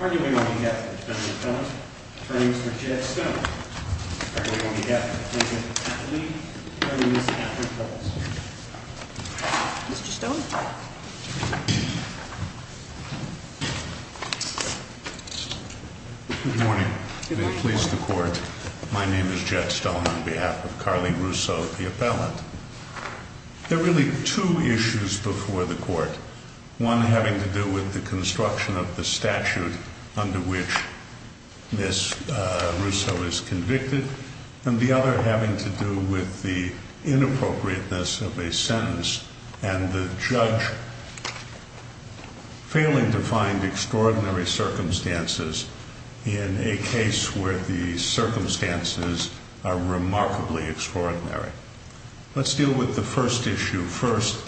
Arguing on behalf of the defendant's appellant, attorney Mr. J.X. Stone. Arguing on behalf of the defendant's appellant, attorney Mr. Catherine Pellis. Mr. Stone. Good morning. May it please the court, my name is J.X. Stone on behalf of Carly Rousso, the appellant. There are really two issues before the court. One having to do with the construction of the statute under which this Rousso is convicted. And the other having to do with the inappropriateness of a sentence and the judge failing to find extraordinary circumstances in a case where the circumstances are remarkably extraordinary. Let's deal with the first issue first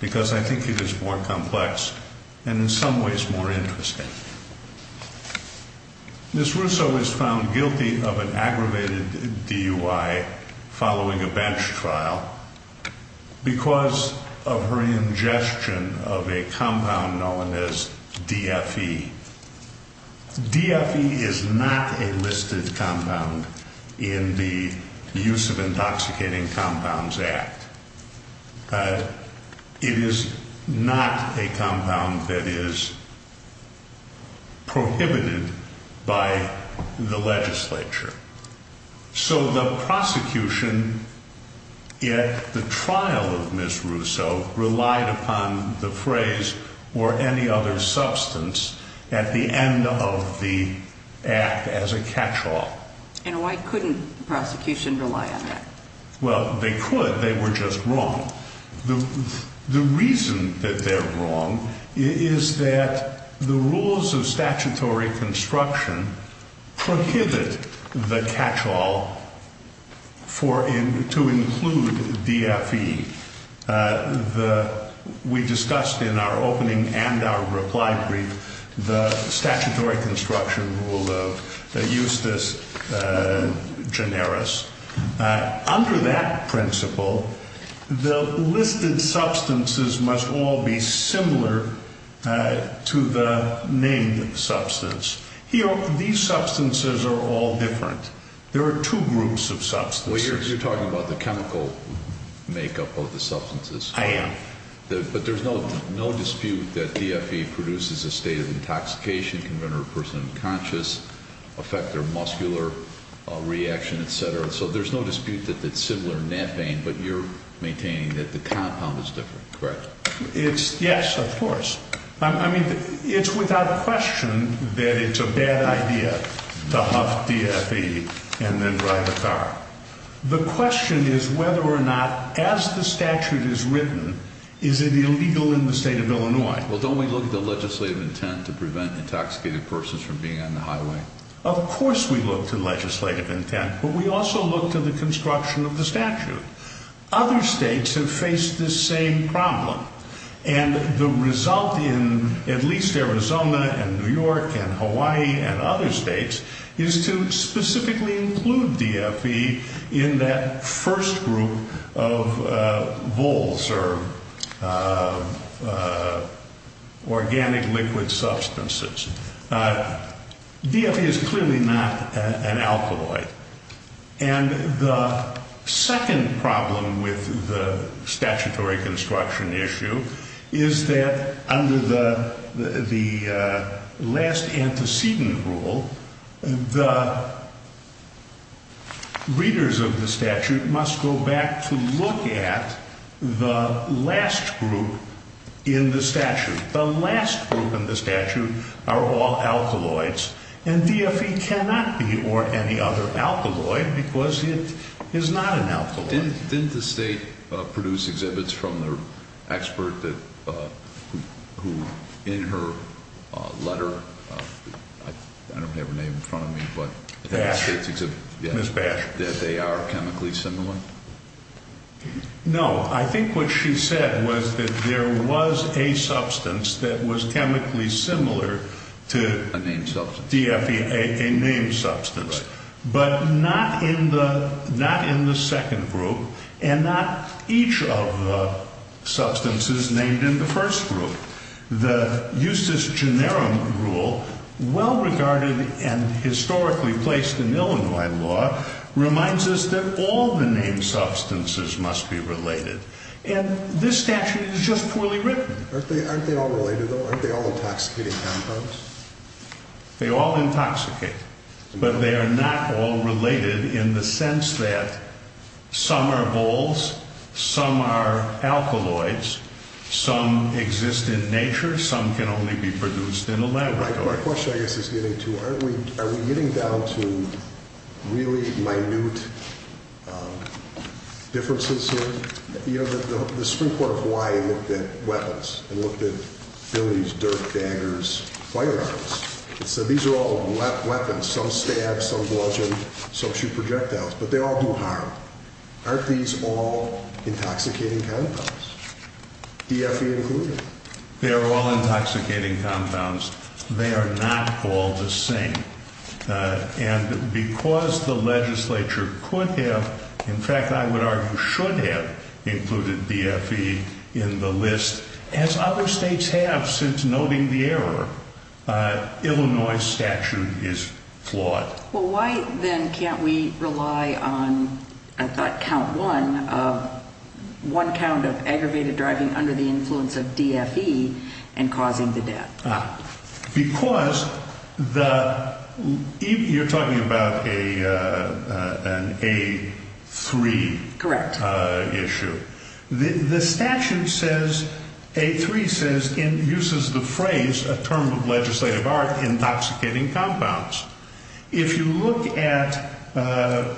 because I think it is more complex and in some ways more interesting. Ms. Rousso is found guilty of an aggravated DUI following a bench trial because of her ingestion of a compound known as DFE. DFE is not a listed compound in the Use of Intoxicating Compounds Act. It is not a compound that is prohibited by the legislature. So the prosecution at the trial of Ms. Rousso relied upon the phrase or any other substance at the end of the act as a catch-all. And why couldn't the prosecution rely on that? Well, they could, they were just wrong. The reason that they're wrong is that the rules of statutory construction prohibit the catch-all to include DFE. We discussed in our opening and our reply brief the statutory construction rule of justice generis. Under that principle, the listed substances must all be similar to the named substance. These substances are all different. There are two groups of substances. Well, you're talking about the chemical makeup of the substances. I am. But there's no dispute that DFE produces a state of intoxication, can render a person unconscious, affect their muscular reaction, etc. So there's no dispute that it's similar in methane, but you're maintaining that the compound is different, correct? Yes, of course. I mean, it's without question that it's a bad idea to huff DFE and then drive a car. The question is whether or not, as the statute is written, is it illegal in the state of Illinois? Well, don't we look at the legislative intent to prevent intoxicated persons from being on the highway? Of course we look to legislative intent, but we also look to the construction of the statute. Other states have faced this same problem. And the result in at least Arizona and New York and Hawaii and other states is to specifically include DFE in that first group of voles or organic liquid substances. DFE is clearly not an alkaloid. And the second problem with the statutory construction issue is that under the last antecedent rule, the readers of the statute must go back to look at the last group in the statute. The last group in the statute are all alkaloids, and DFE cannot be or any other alkaloid because it is not an alkaloid. Didn't the state produce exhibits from the expert who, in her letter, I don't have her name in front of me, but... Bash. Ms. Bash. That they are chemically similar? No. I think what she said was that there was a substance that was chemically similar to... A named substance. DFE, a named substance. Right. But not in the second group and not each of the substances named in the first group. The justus generum rule, well regarded and historically placed in Illinois law, reminds us that all the named substances must be related. And this statute is just poorly written. Aren't they all related, though? Aren't they all intoxicating compounds? They all intoxicate. But they are not all related in the sense that some are bulls, some are alkaloids, some exist in nature, some can only be produced in a laboratory. My question, I guess, is getting to, are we getting down to really minute differences here? You know, the Supreme Court of Hawaii looked at weapons and looked at billies, dirt daggers, firearms. It said these are all weapons. Some stab, some bludgeon, some shoot projectiles. But they all do harm. Aren't these all intoxicating compounds? DFE included. They are all intoxicating compounds. They are not all the same. And because the legislature could have, in fact I would argue should have, included DFE in the list, as other states have since noting the error, Illinois statute is flawed. Well, why then can't we rely on, I thought count one, one count of aggravated driving under the influence of DFE and causing the death? Because the, you're talking about an A3 issue. The statute says, A3 says, uses the phrase, a term of legislative art, intoxicating compounds. If you look at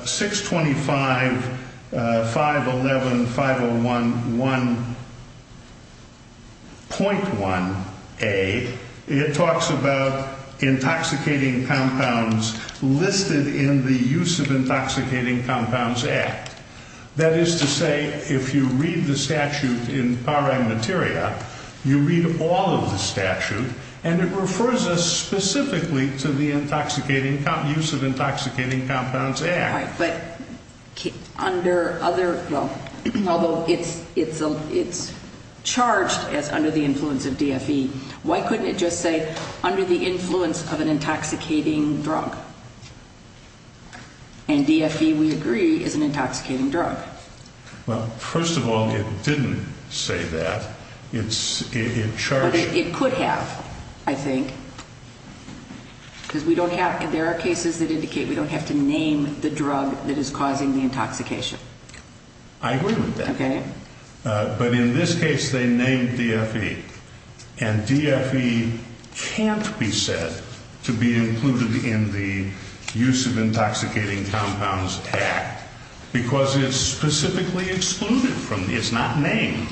625, 511, 501.1A, it talks about intoxicating compounds listed in the Use of Intoxicating Compounds Act. That is to say, if you read the statute in Parag Materia, you read all of the statute, and it refers us specifically to the intoxicating, Use of Intoxicating Compounds Act. Right, but under other, well, although it's charged as under the influence of DFE, why couldn't it just say under the influence of an intoxicating drug? And DFE, we agree, is an intoxicating drug. Well, first of all, it didn't say that. It's, it charged. But it could have, I think, because we don't have, there are cases that indicate we don't have to name the drug that is causing the intoxication. I agree with that. Okay. But in this case, they named DFE. And DFE can't be said to be included in the Use of Intoxicating Compounds Act because it's specifically excluded from, it's not named.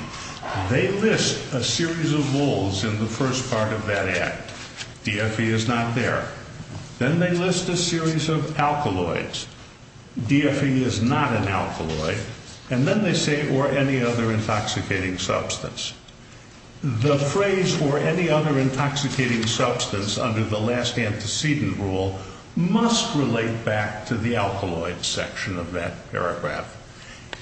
They list a series of rules in the first part of that act. DFE is not there. Then they list a series of alkaloids. DFE is not an alkaloid. And then they say or any other intoxicating substance. The phrase or any other intoxicating substance under the last antecedent rule must relate back to the alkaloids section of that paragraph.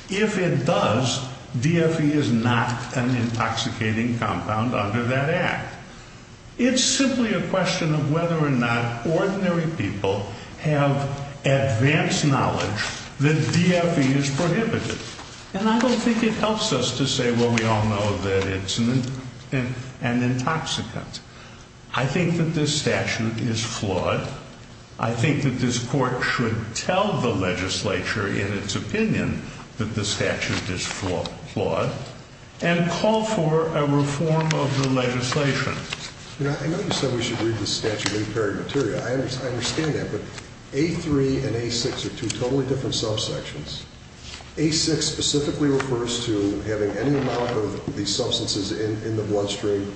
If it does, DFE is not an intoxicating compound under that act. It's simply a question of whether or not ordinary people have advanced knowledge that DFE is prohibited. And I don't think it helps us to say, well, we all know that it's an intoxicant. I think that this statute is flawed. I think that this court should tell the legislature in its opinion that the statute is flawed and call for a reform of the legislation. You know, I know you said we should read the statute in period material. I understand that. But A3 and A6 are two totally different subsections. A6 specifically refers to having any amount of these substances in the bloodstream.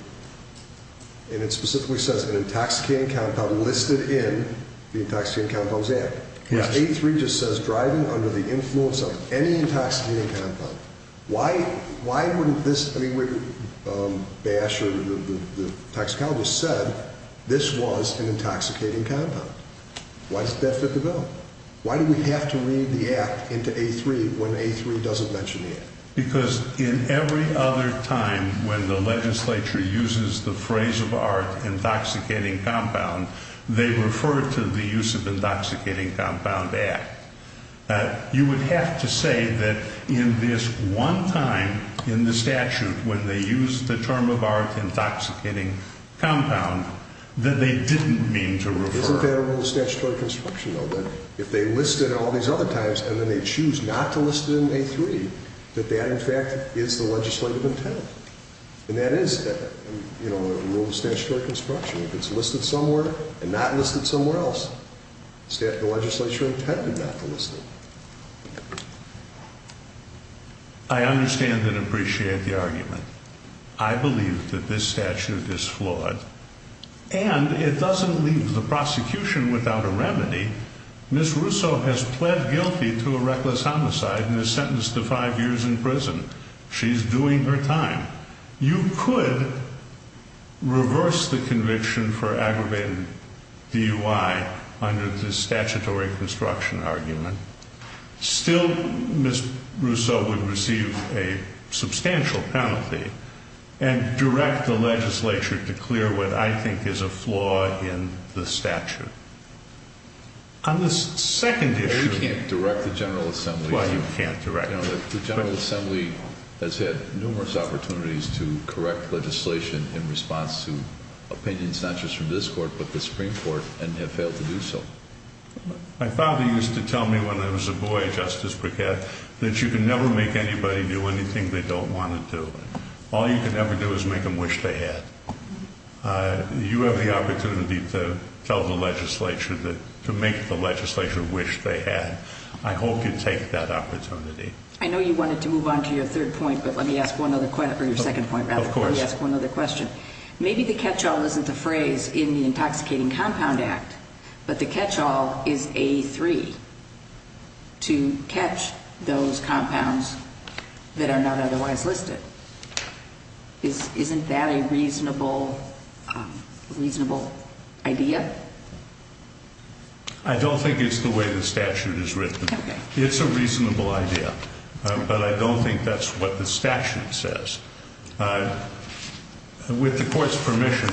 And it specifically says an intoxicating compound listed in the Intoxicating Compounds Act. A3 just says driving under the influence of any intoxicating compound. Why wouldn't this, I mean, Bash or the toxicologist said this was an intoxicating compound. Why doesn't that fit the bill? Why do we have to read the act into A3 when A3 doesn't mention the act? Because in every other time when the legislature uses the phrase of our intoxicating compound, they refer to the use of the Intoxicating Compound Act. You would have to say that in this one time in the statute when they use the term of our intoxicating compound that they didn't mean to refer. Isn't that a rule of statutory construction, though, that if they listed it all these other times and then they choose not to list it in A3, that that, in fact, is the legislative intent? And that is, you know, a rule of statutory construction. If it's listed somewhere and not listed somewhere else, the legislature intended not to list it. I understand and appreciate the argument. I believe that this statute is flawed and it doesn't leave the prosecution without a remedy. Ms. Russo has pled guilty to a reckless homicide and is sentenced to five years in prison. She's doing her time. You could reverse the conviction for aggravated DUI under this statutory construction argument. Still, Ms. Russo would receive a substantial penalty and direct the legislature to clear what I think is a flaw in the statute. On this second issue... You can't direct the General Assembly. Why you can't direct? The General Assembly has had numerous opportunities to correct legislation in response to opinions not just from this court but the Supreme Court and have failed to do so. My father used to tell me when I was a boy, Justice Brickett, that you can never make anybody do anything they don't want to do. All you can ever do is make them wish they had. You have the opportunity to tell the legislature that, to make the legislature wish they had. I hope you take that opportunity. I know you wanted to move on to your third point, but let me ask one other question, or your second point, rather. Of course. Let me ask one other question. Maybe the catch-all isn't the phrase in the Intoxicating Compound Act, but the catch-all is A3, to catch those compounds that are not otherwise listed. Isn't that a reasonable idea? I don't think it's the way the statute is written. Okay. It's a reasonable idea, but I don't think that's what the statute says. With the court's permission,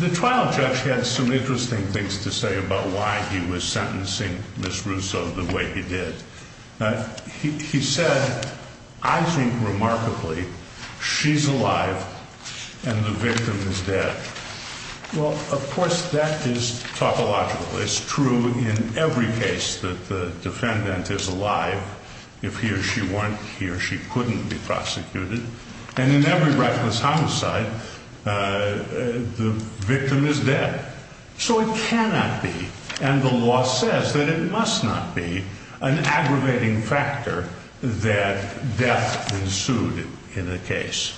the trial judge had some interesting things to say about why he was sentencing Ms. Russo the way he did. He said, I think remarkably, she's alive and the victim is dead. Well, of course, that is topological. It's true in every case that the defendant is alive. If he or she weren't, he or she couldn't be prosecuted. And in every reckless homicide, the victim is dead. So it cannot be, and the law says that it must not be, an aggravating factor that death ensued in a case.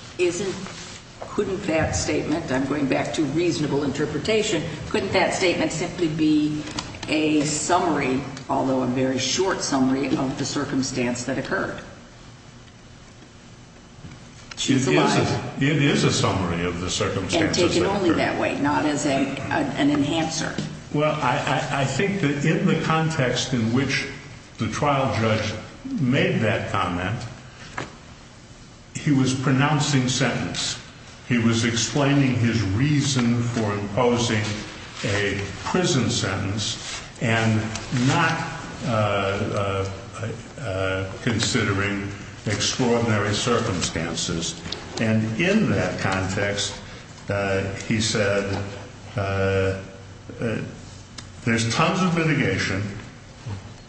Couldn't that statement, I'm going back to reasonable interpretation, couldn't that statement simply be a summary, although a very short summary, of the circumstance that occurred? She's alive. It is a summary of the circumstances that occurred. And taken only that way, not as an enhancer. Well, I think that in the context in which the trial judge made that comment, he was pronouncing sentence. He was explaining his reason for imposing a prison sentence and not considering extraordinary circumstances. And in that context, he said, there's tons of litigation,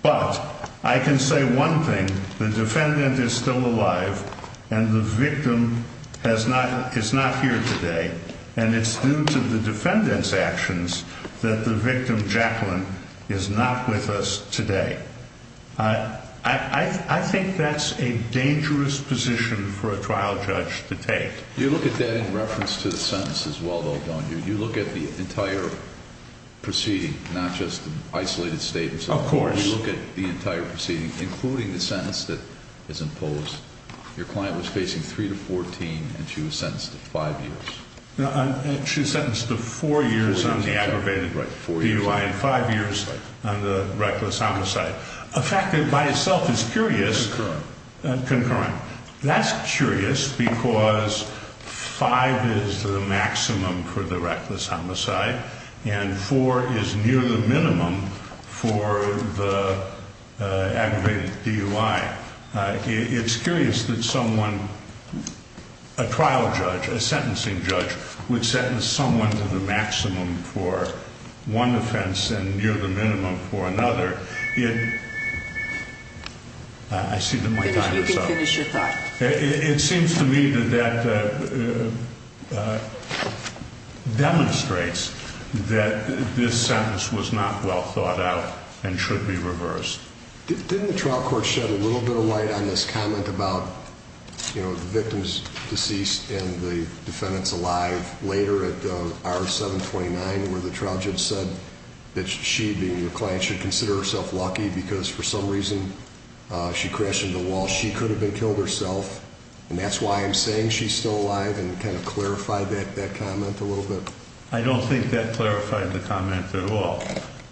but I can say one thing. The defendant is still alive and the victim has not is not here today. And it's due to the defendant's actions that the victim, Jacqueline, is not with us today. I think that's a dangerous position for a trial judge to take. You look at that in reference to the sentence as well, though, don't you? You look at the entire proceeding, not just isolated statements. Of course. You look at the entire proceeding, including the sentence that is imposed. Your client was facing three to 14 and she was sentenced to five years. She was sentenced to four years on the aggravated DUI and five years on the reckless homicide. A fact that by itself is curious. Concurrent. Concurrent. That's curious because five is the maximum for the reckless homicide and four is near the minimum for the aggravated DUI. It's curious that someone, a trial judge, a sentencing judge, would sentence someone to the maximum for one offense and near the minimum for another. I see that my time is up. Finish your thought. It seems to me that that demonstrates that this sentence was not well thought out and should be reversed. Didn't the trial court shed a little bit of light on this comment about the victim's deceased and the defendant's alive later at the hour 729 where the trial judge said that she, being your client, should consider herself lucky because for some reason she crashed into the wall. She could have been killed herself and that's why I'm saying she's still alive and kind of clarify that comment a little bit. I don't think that clarified the comment at all.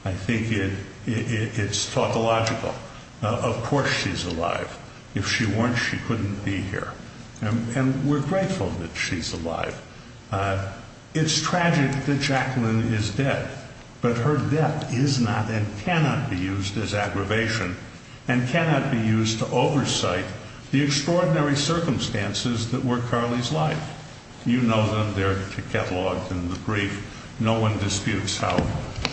I think it's topological. Of course she's alive. If she weren't, she couldn't be here. And we're grateful that she's alive. It's tragic that Jacqueline is dead, but her death is not and cannot be used as aggravation and cannot be used to oversight the extraordinary circumstances that were Carly's life. You know them. They're cataloged in the brief. No one disputes how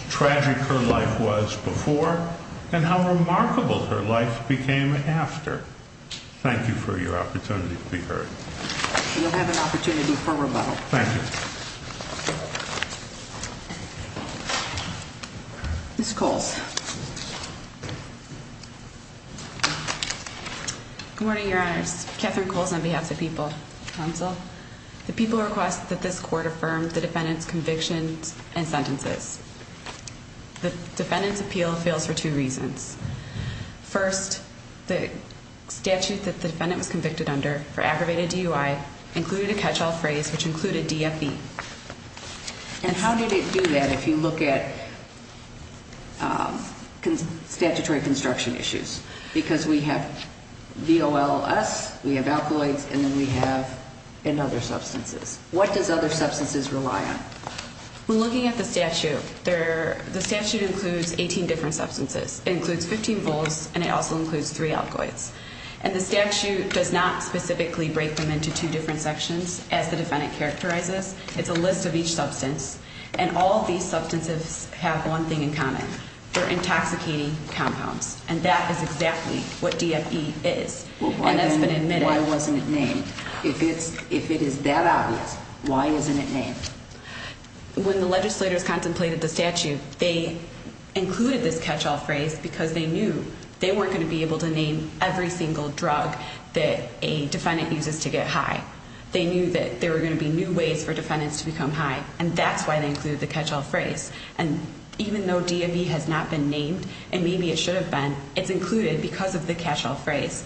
tragic her life was before and how remarkable her life became after. Thank you for your opportunity to be heard. We'll have an opportunity for rebuttal. Thank you. Miss Coles. Good morning, Your Honors. Catherine Coles on behalf of the People Council. The People request that this court affirm the defendant's convictions and sentences. The defendant's appeal fails for two reasons. First, the statute that the defendant was convicted under for aggravated DUI included a catch-all phrase which included DFV. And how did it do that if you look at statutory construction issues? Because we have VOLS, we have alkaloids, and then we have in other substances. What does other substances rely on? When looking at the statute, the statute includes 18 different substances. It includes 15 vols and it also includes three alkaloids. And the statute does not specifically break them into two different sections as the defendant characterizes. It's a list of each substance. And all of these substances have one thing in common. They're intoxicating compounds. And that is exactly what DFV is. And that's been admitted. Why wasn't it named? If it is that obvious, why isn't it named? When the legislators contemplated the statute, they included this catch-all phrase because they knew they weren't going to be able to name every single drug that a defendant uses to get high. They knew that there were going to be new ways for defendants to become high. And that's why they included the catch-all phrase. And even though DFV has not been named, and maybe it should have been, it's included because of the catch-all phrase.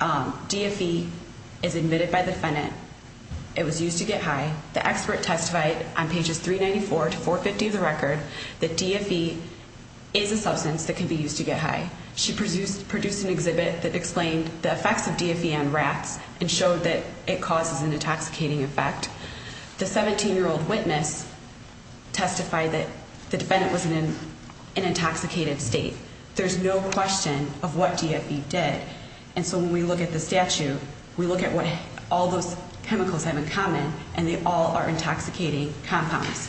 DFV is admitted by the defendant. It was used to get high. The expert testified on pages 394 to 450 of the record that DFV is a substance that can be used to get high. She produced an exhibit that explained the effects of DFV on rats and showed that it causes an intoxicating effect. The 17-year-old witness testified that the defendant was in an intoxicated state. There's no question of what DFV did. And so when we look at the statute, we look at what all those chemicals have in common, and they all are intoxicating compounds.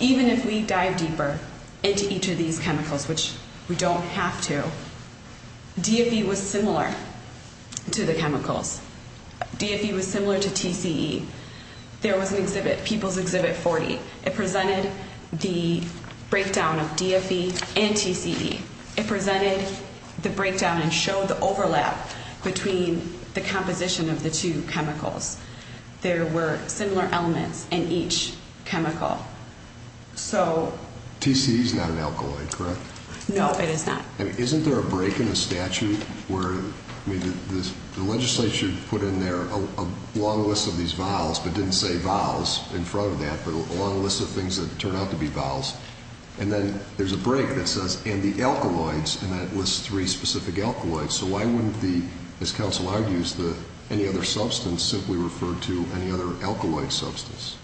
Even if we dive deeper into each of these chemicals, which we don't have to, DFV was similar to the chemicals. DFV was similar to TCE. There was an exhibit, People's Exhibit 40. It presented the breakdown of DFV and TCE. It presented the breakdown and showed the overlap between the composition of the two chemicals. There were similar elements in each chemical. So... TCE is not an alkaloid, correct? No, it is not. Isn't there a break in the statute where the legislature put in there a long list of these vials, but didn't say vials in front of that, but a long list of things that turned out to be vials? And then there's a break that says, and the alkaloids, and that lists three specific alkaloids. So why wouldn't the, as counsel argues, any other substance simply refer to any other alkaloid substance?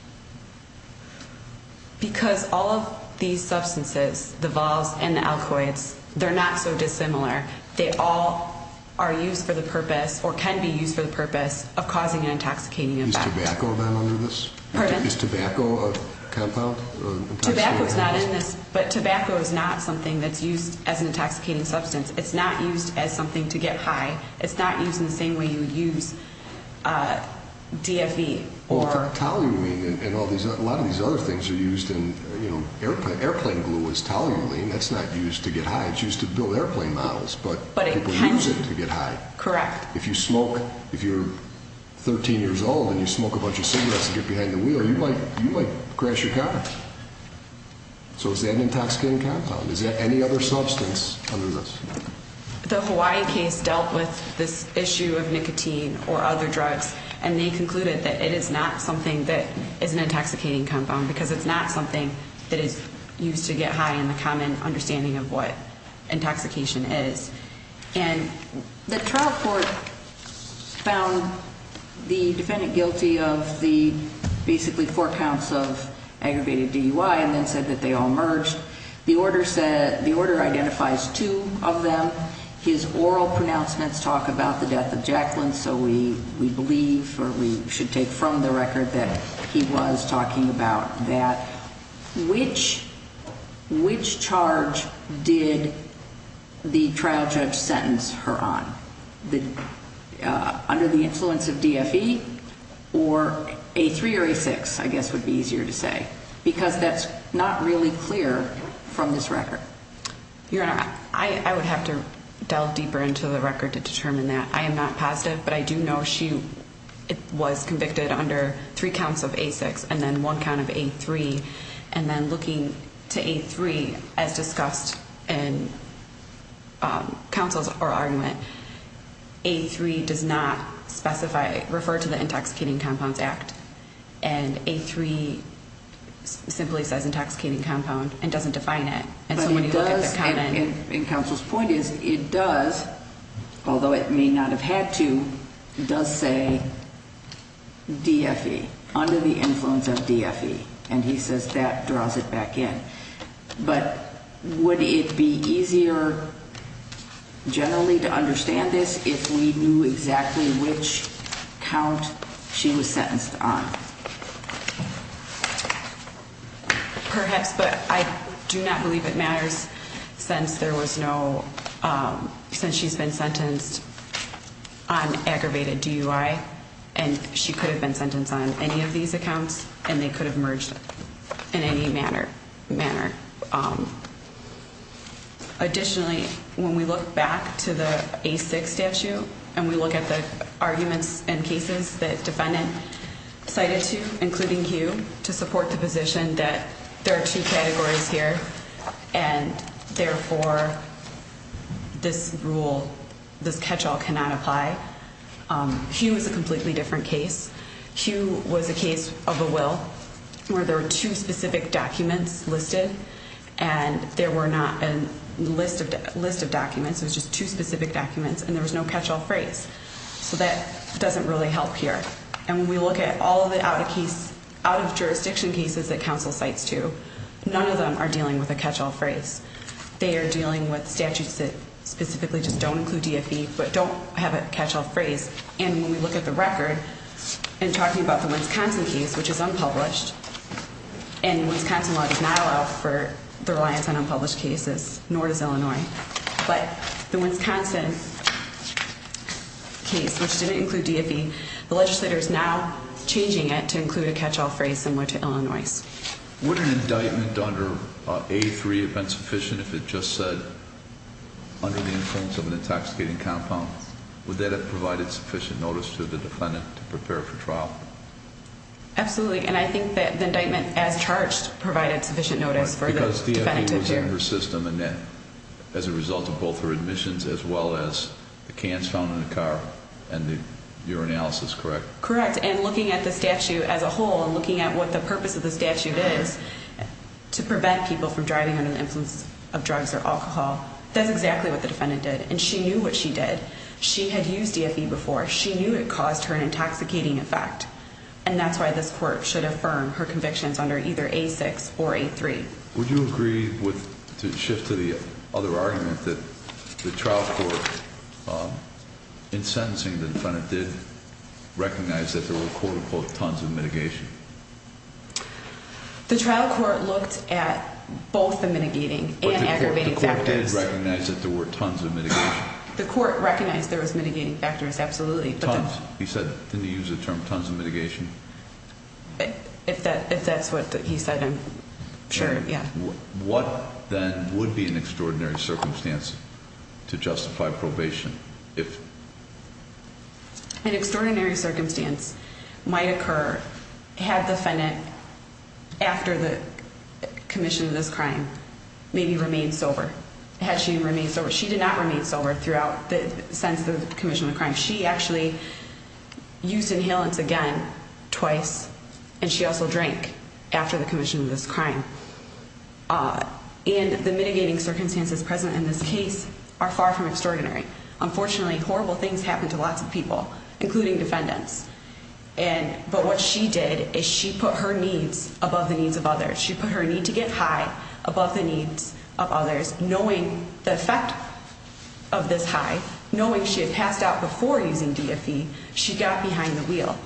Because all of these substances, the vials and the alkaloids, they're not so dissimilar. They all are used for the purpose, or can be used for the purpose, of causing an intoxicating effect. Is tobacco then under this? Pardon? Is tobacco a compound? Tobacco is not in this, but tobacco is not something that's used as an intoxicating substance. It's not used as something to get high. It's not used in the same way you would use DFV. Well, toluene and a lot of these other things are used in, you know, airplane glue is toluene. That's not used to get high. It's used to build airplane models, but people use it to get high. Correct. If you smoke, if you're 13 years old and you smoke a bunch of cigarettes and get behind the wheel, you might crash your car. So is that an intoxicating compound? Is there any other substance under this? The Hawaii case dealt with this issue of nicotine or other drugs, and they concluded that it is not something that is an intoxicating compound because it's not something that is used to get high in the common understanding of what intoxication is. And the trial court found the defendant guilty of the basically four counts of aggravated DUI and then said that they all merged. The order identifies two of them. His oral pronouncements talk about the death of Jacqueline, so we believe or we should take from the record that he was talking about that. Which charge did the trial judge sentence her on? Under the influence of DFE or A3 or A6, I guess would be easier to say, because that's not really clear from this record. Your Honor, I would have to delve deeper into the record to determine that. I am not positive, but I do know she was convicted under three counts of A6 and then one count of A3, and then looking to A3 as discussed in counsel's argument, A3 does not specify, refer to the Intoxicating Compounds Act, and A3 simply says intoxicating compound and doesn't define it. And so when you look at the common... And counsel's point is it does, although it may not have had to, does say DFE, under the influence of DFE, and he says that draws it back in. But would it be easier generally to understand this if we knew exactly which count she was sentenced on? Perhaps, but I do not believe it matters since there was no... Since she's been sentenced on aggravated DUI, and she could have been sentenced on any of these accounts, and they could have merged in any manner. Additionally, when we look back to the A6 statute, and we look at the arguments and cases that defendant cited to, including Hugh, to support the position that there are two categories here, and therefore this rule, this catch-all cannot apply. Hugh is a completely different case. Hugh was a case of a will where there were two specific documents listed, and there were not a list of documents. It was just two specific documents, and there was no catch-all phrase. So that doesn't really help here. And when we look at all of the out-of-case, out-of-jurisdiction cases that counsel cites to, none of them are dealing with a catch-all phrase. They are dealing with statutes that specifically just don't include DFE, but don't have a catch-all phrase. And when we look at the record, and talking about the Wisconsin case, which is unpublished, and the Wisconsin law does not allow for the reliance on unpublished cases, nor does Illinois. But the Wisconsin case, which didn't include DFE, the legislator is now changing it to include a catch-all phrase similar to Illinois'. Would an indictment under A3 have been sufficient if it just said, under the influence of an intoxicating compound, would that have provided sufficient notice to the defendant to prepare for trial? Absolutely. And I think that the indictment as charged provided sufficient notice for the defendant to prepare. Because DFE was in her system as a result of both her admissions as well as the cans found in the car and the urinalysis, correct? Correct. And looking at the statute as a whole, and looking at what the purpose of the statute is to prevent people from driving under the influence of drugs or alcohol, that's exactly what the defendant did. And she knew what she did. She had used DFE before. She knew it caused her an intoxicating effect. And that's why this court should affirm her convictions under either A6 or A3. Would you agree with, to shift to the other argument, that the trial court, in sentencing the defendant, did recognize that there were quote-unquote tons of mitigation? The trial court looked at both the mitigating and aggravating factors. But the court did recognize that there were tons of mitigation. The court recognized there was mitigating factors, absolutely. Tons. He said, didn't he use the term tons of mitigation? If that's what he said, I'm sure, yeah. What then would be an extraordinary circumstance to justify probation if? An extraordinary circumstance might occur had the defendant, after the commission of this crime, maybe remained sober. Had she remained sober. She did not remain sober throughout the sense of the commission of the crime. She actually used inhalants again twice, and she also drank after the commission of this crime. And the mitigating circumstances present in this case are far from extraordinary. Unfortunately, horrible things happen to lots of people, including defendants. But what she did is she put her needs above the needs of others. She put her need to get high above the needs of others, knowing the effect of this high, knowing she had passed out before using DFE, she got behind the wheel.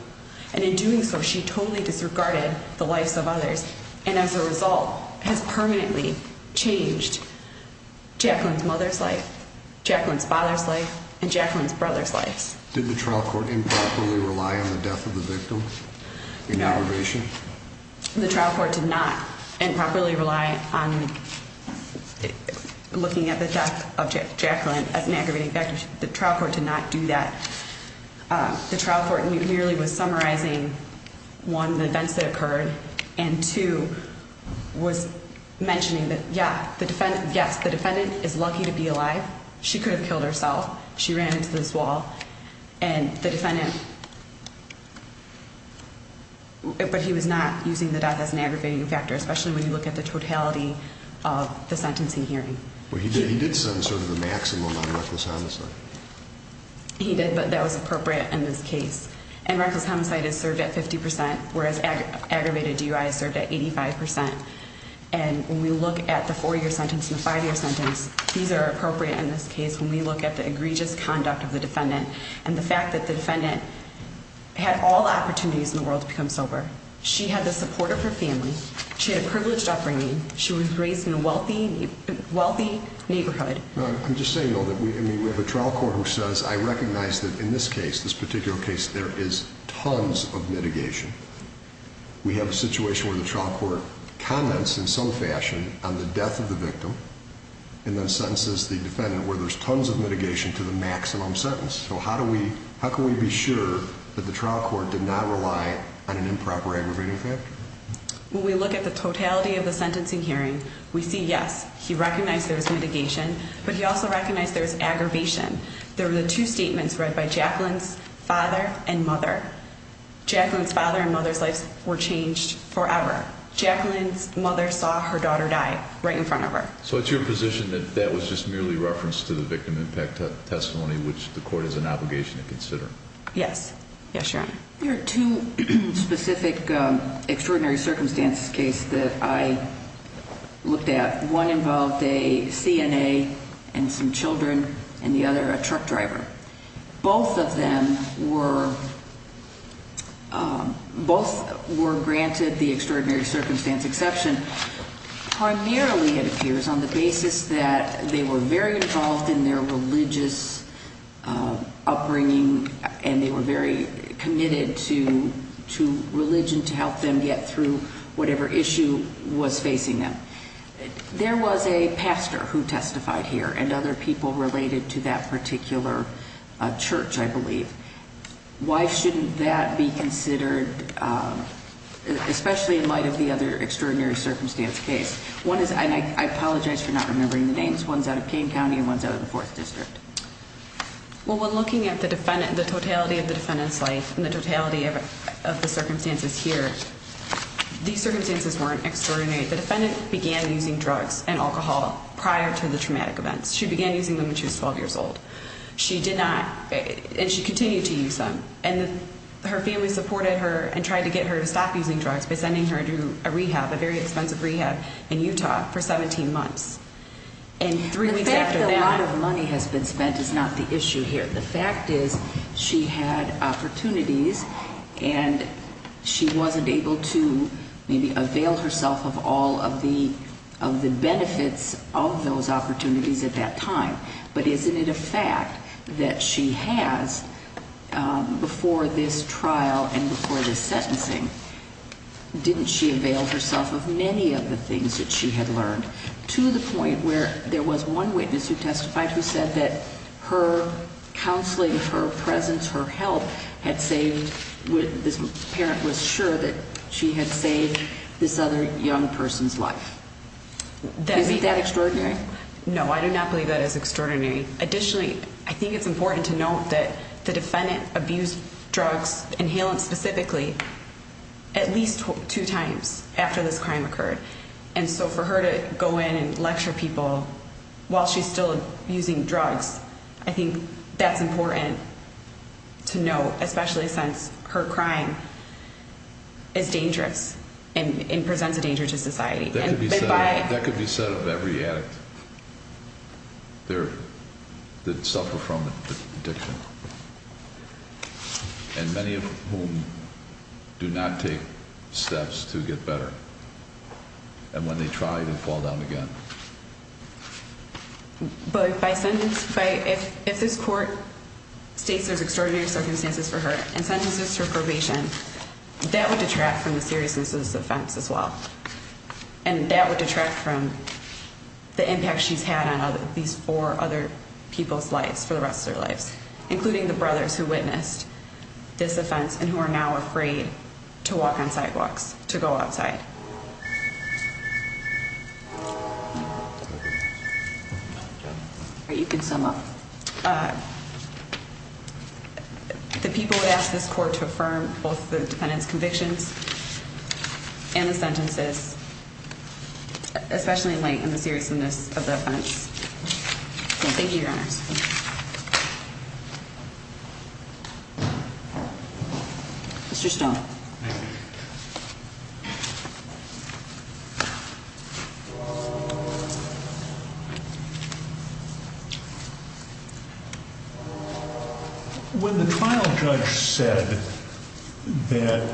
And in doing so, she totally disregarded the lives of others, and as a result, has permanently changed Jacqueline's mother's life, Jacqueline's father's life, and Jacqueline's brother's lives. Did the trial court improperly rely on the death of the victim in aggravation? The trial court did not improperly rely on looking at the death of Jacqueline as an aggravating factor. The trial court did not do that. The trial court merely was summarizing, one, the events that occurred, and two, was mentioning that, yes, the defendant is lucky to be alive. She could have killed herself. She ran into this wall. And the defendant, but he was not using the death as an aggravating factor, especially when you look at the totality of the sentencing hearing. Well, he did send sort of the maximum on reckless homicide. He did, but that was appropriate in this case. And reckless homicide is served at 50%, whereas aggravated DUI is served at 85%. And when we look at the four-year sentence and the five-year sentence, these are appropriate in this case when we look at the egregious conduct of the defendant and the fact that the defendant had all opportunities in the world to become sober. She had the support of her family. She had a privileged upbringing. She was raised in a wealthy neighborhood. I'm just saying, though, that we have a trial court who says, I recognize that in this case, this particular case, there is tons of mitigation. We have a situation where the trial court comments in some fashion on the death of the victim and then sentences the defendant where there's tons of mitigation to the maximum sentence. So how can we be sure that the trial court did not rely on an improper aggravating factor? When we look at the totality of the sentencing hearing, we see, yes, he recognized there was mitigation, but he also recognized there was aggravation. There were the two statements read by Jacqueline's father and mother. Jacqueline's father and mother's lives were changed forever. Jacqueline's mother saw her daughter die right in front of her. So it's your position that that was just merely reference to the victim impact testimony, which the court has an obligation to consider? Yes. Yes, Your Honor. There are two specific extraordinary circumstances cases that I looked at. One involved a CNA and some children, and the other a truck driver. Both of them were granted the extraordinary circumstance exception. Primarily, it appears, on the basis that they were very involved in their religious upbringing and they were very committed to religion to help them get through whatever issue was facing them. There was a pastor who testified here and other people related to that particular church, I believe. Why shouldn't that be considered, especially in light of the other extraordinary circumstance case? And I apologize for not remembering the names. One's out of Kane County and one's out of the 4th District. Well, when looking at the totality of the defendant's life and the totality of the circumstances here, these circumstances weren't extraordinary. The defendant began using drugs and alcohol prior to the traumatic events. She began using them when she was 12 years old. She did not, and she continued to use them. And her family supported her and tried to get her to stop using drugs by sending her to a rehab, a very expensive rehab in Utah for 17 months. The fact that a lot of money has been spent is not the issue here. The fact is she had opportunities and she wasn't able to maybe avail herself of all of the benefits of those opportunities at that time. But isn't it a fact that she has, before this trial and before this sentencing, didn't she avail herself of many of the things that she had learned to the point where there was one witness who testified who said that her counseling, her presence, her help had saved, this parent was sure that she had saved this other young person's life. Isn't that extraordinary? No, I do not believe that is extraordinary. Additionally, I think it's important to note that the defendant abused drugs, inhalants specifically, at least two times after this crime occurred. And so for her to go in and lecture people while she's still using drugs, I think that's important to note, especially since her crime is dangerous and presents a danger to society. That could be said of every addict. There, that suffer from addiction. And many of whom do not take steps to get better. And when they try, they fall down again. But if this court states there's extraordinary circumstances for her and sentences her for probation, that would detract from the seriousness of this offense as well. And that would detract from the impact she's had on these four other people's lives for the rest of their lives, including the brothers who witnessed this offense and who are now afraid to walk on sidewalks, to go outside. You can sum up. The people would ask this court to affirm both the defendant's convictions and the sentences, especially in light of the seriousness of the offense. Thank you, Your Honors. Thank you. Mr. Stone. Thank you. When the trial judge said that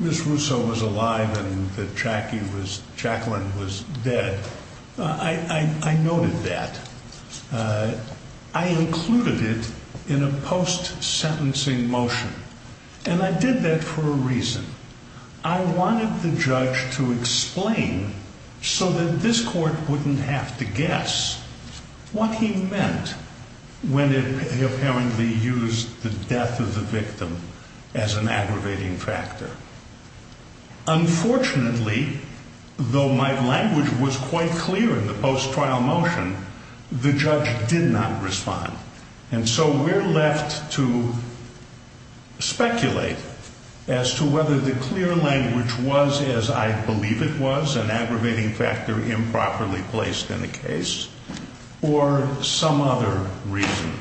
Ms. Russo was alive and that Jackie was, Jacqueline was dead, I noted that. I included it in a post-sentencing motion. And I did that for a reason. I wanted the judge to explain so that this court wouldn't have to guess what he meant when he apparently used the death of the victim as an aggravating factor. Unfortunately, though my language was quite clear in the post-trial motion, the judge did not respond. And so we're left to speculate as to whether the clear language was as I believe it was, an aggravating factor improperly placed in the case, or some other reason.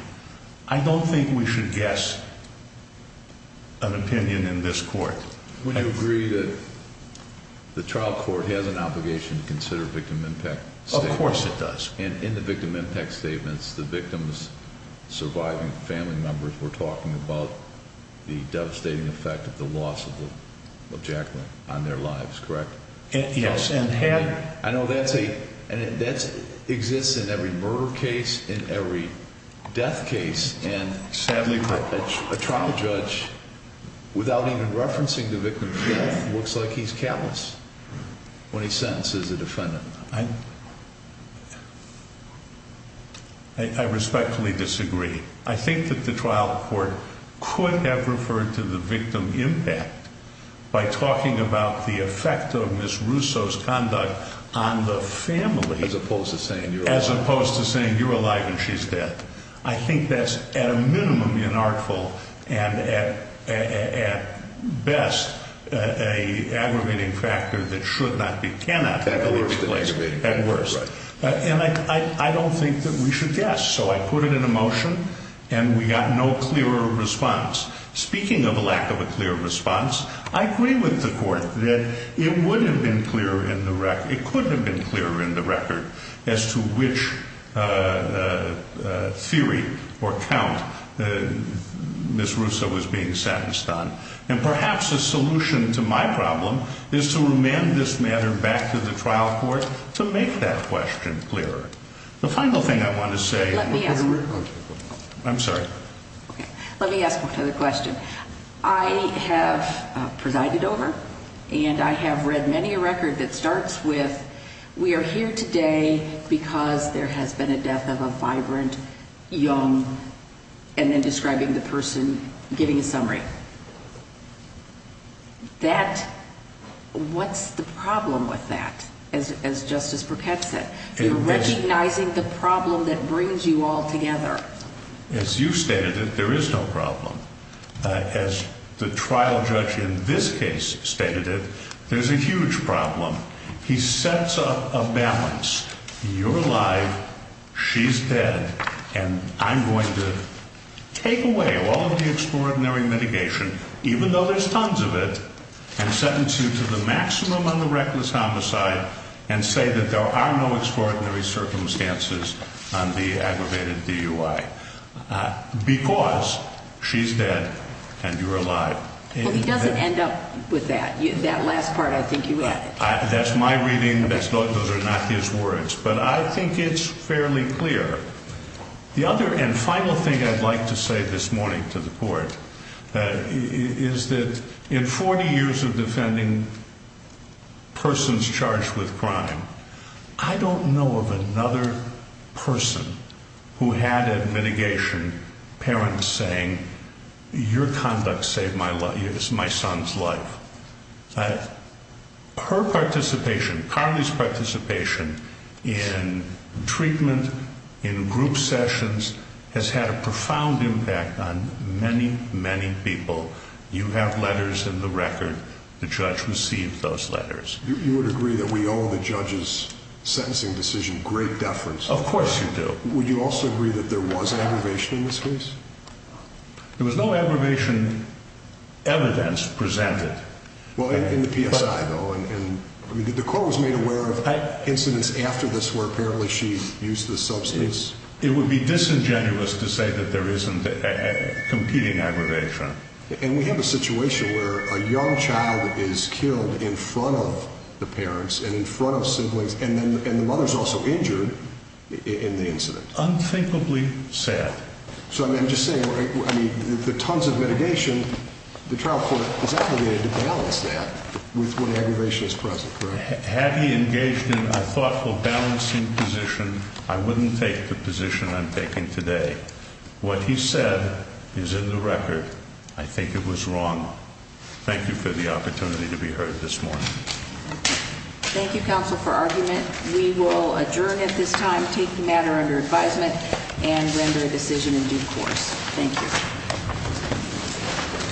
I don't think we should guess an opinion in this court. Would you agree that the trial court has an obligation to consider victim impact statements? Of course it does. And in the victim impact statements, the victim's surviving family members were talking about the devastating effect of the loss of Jacqueline on their lives, correct? Yes. I know that exists in every murder case, in every death case. And sadly, a trial judge, without even referencing the victim's death, looks like he's callous when he sentences a defendant. I respectfully disagree. I think that the trial court could have referred to the victim impact by talking about the effect of Ms. Russo's conduct on the family. As opposed to saying you're alive. As opposed to saying you're alive and she's dead. I think that's at a minimum inartful and at best an aggravating factor that should not be, cannot be, placed at worst. And I don't think that we should guess. So I put it in a motion and we got no clearer response. Speaking of a lack of a clear response, I agree with the court that it would have been clearer in the record, it could have been clearer in the record, as to which theory or count Ms. Russo was being sentenced on. And perhaps a solution to my problem is to remand this matter back to the trial court to make that question clearer. The final thing I want to say... Let me ask... I'm sorry. Let me ask one other question. I have presided over and I have read many a record that starts with, we are here today because there has been a death of a vibrant, young, and then describing the person, giving a summary. What's the problem with that, as Justice Burkett said? You're recognizing the problem that brings you all together. As you stated it, there is no problem. As the trial judge in this case stated it, there's a huge problem. He sets up a balance. You're alive, she's dead, and I'm going to take away all of the extraordinary mitigation, even though there's tons of it, and sentence you to the maximum on the reckless homicide and say that there are no extraordinary circumstances on the aggravated DUI. Because she's dead and you're alive. He doesn't end up with that. That last part I think you added. That's my reading. Those are not his words. But I think it's fairly clear. The other and final thing I'd like to say this morning to the court is that in 40 years of defending persons charged with crime, I don't know of another person who had a mitigation parent saying, your conduct saved my son's life. Her participation, Carly's participation in treatment, in group sessions, has had a profound impact on many, many people. You have letters in the record. The judge received those letters. You would agree that we owe the judge's sentencing decision great deference. Of course you do. Would you also agree that there was an aggravation in this case? There was no aggravation evidence presented. Well, in the PSI, though. The court was made aware of incidents after this where apparently she used the substance. It would be disingenuous to say that there isn't a competing aggravation. And we have a situation where a young child is killed in front of the parents and in front of siblings, and the mother's also injured in the incident. Unthinkably. Sad. So, I'm just saying, the tons of mitigation, the trial court is obligated to balance that with what aggravation is present, correct? Had he engaged in a thoughtful balancing position, I wouldn't take the position I'm taking today. What he said is in the record. I think it was wrong. Thank you for the opportunity to be heard this morning. Thank you, counsel, for argument. We will adjourn at this time, take the matter under advisement, and render a decision in due course. Thank you.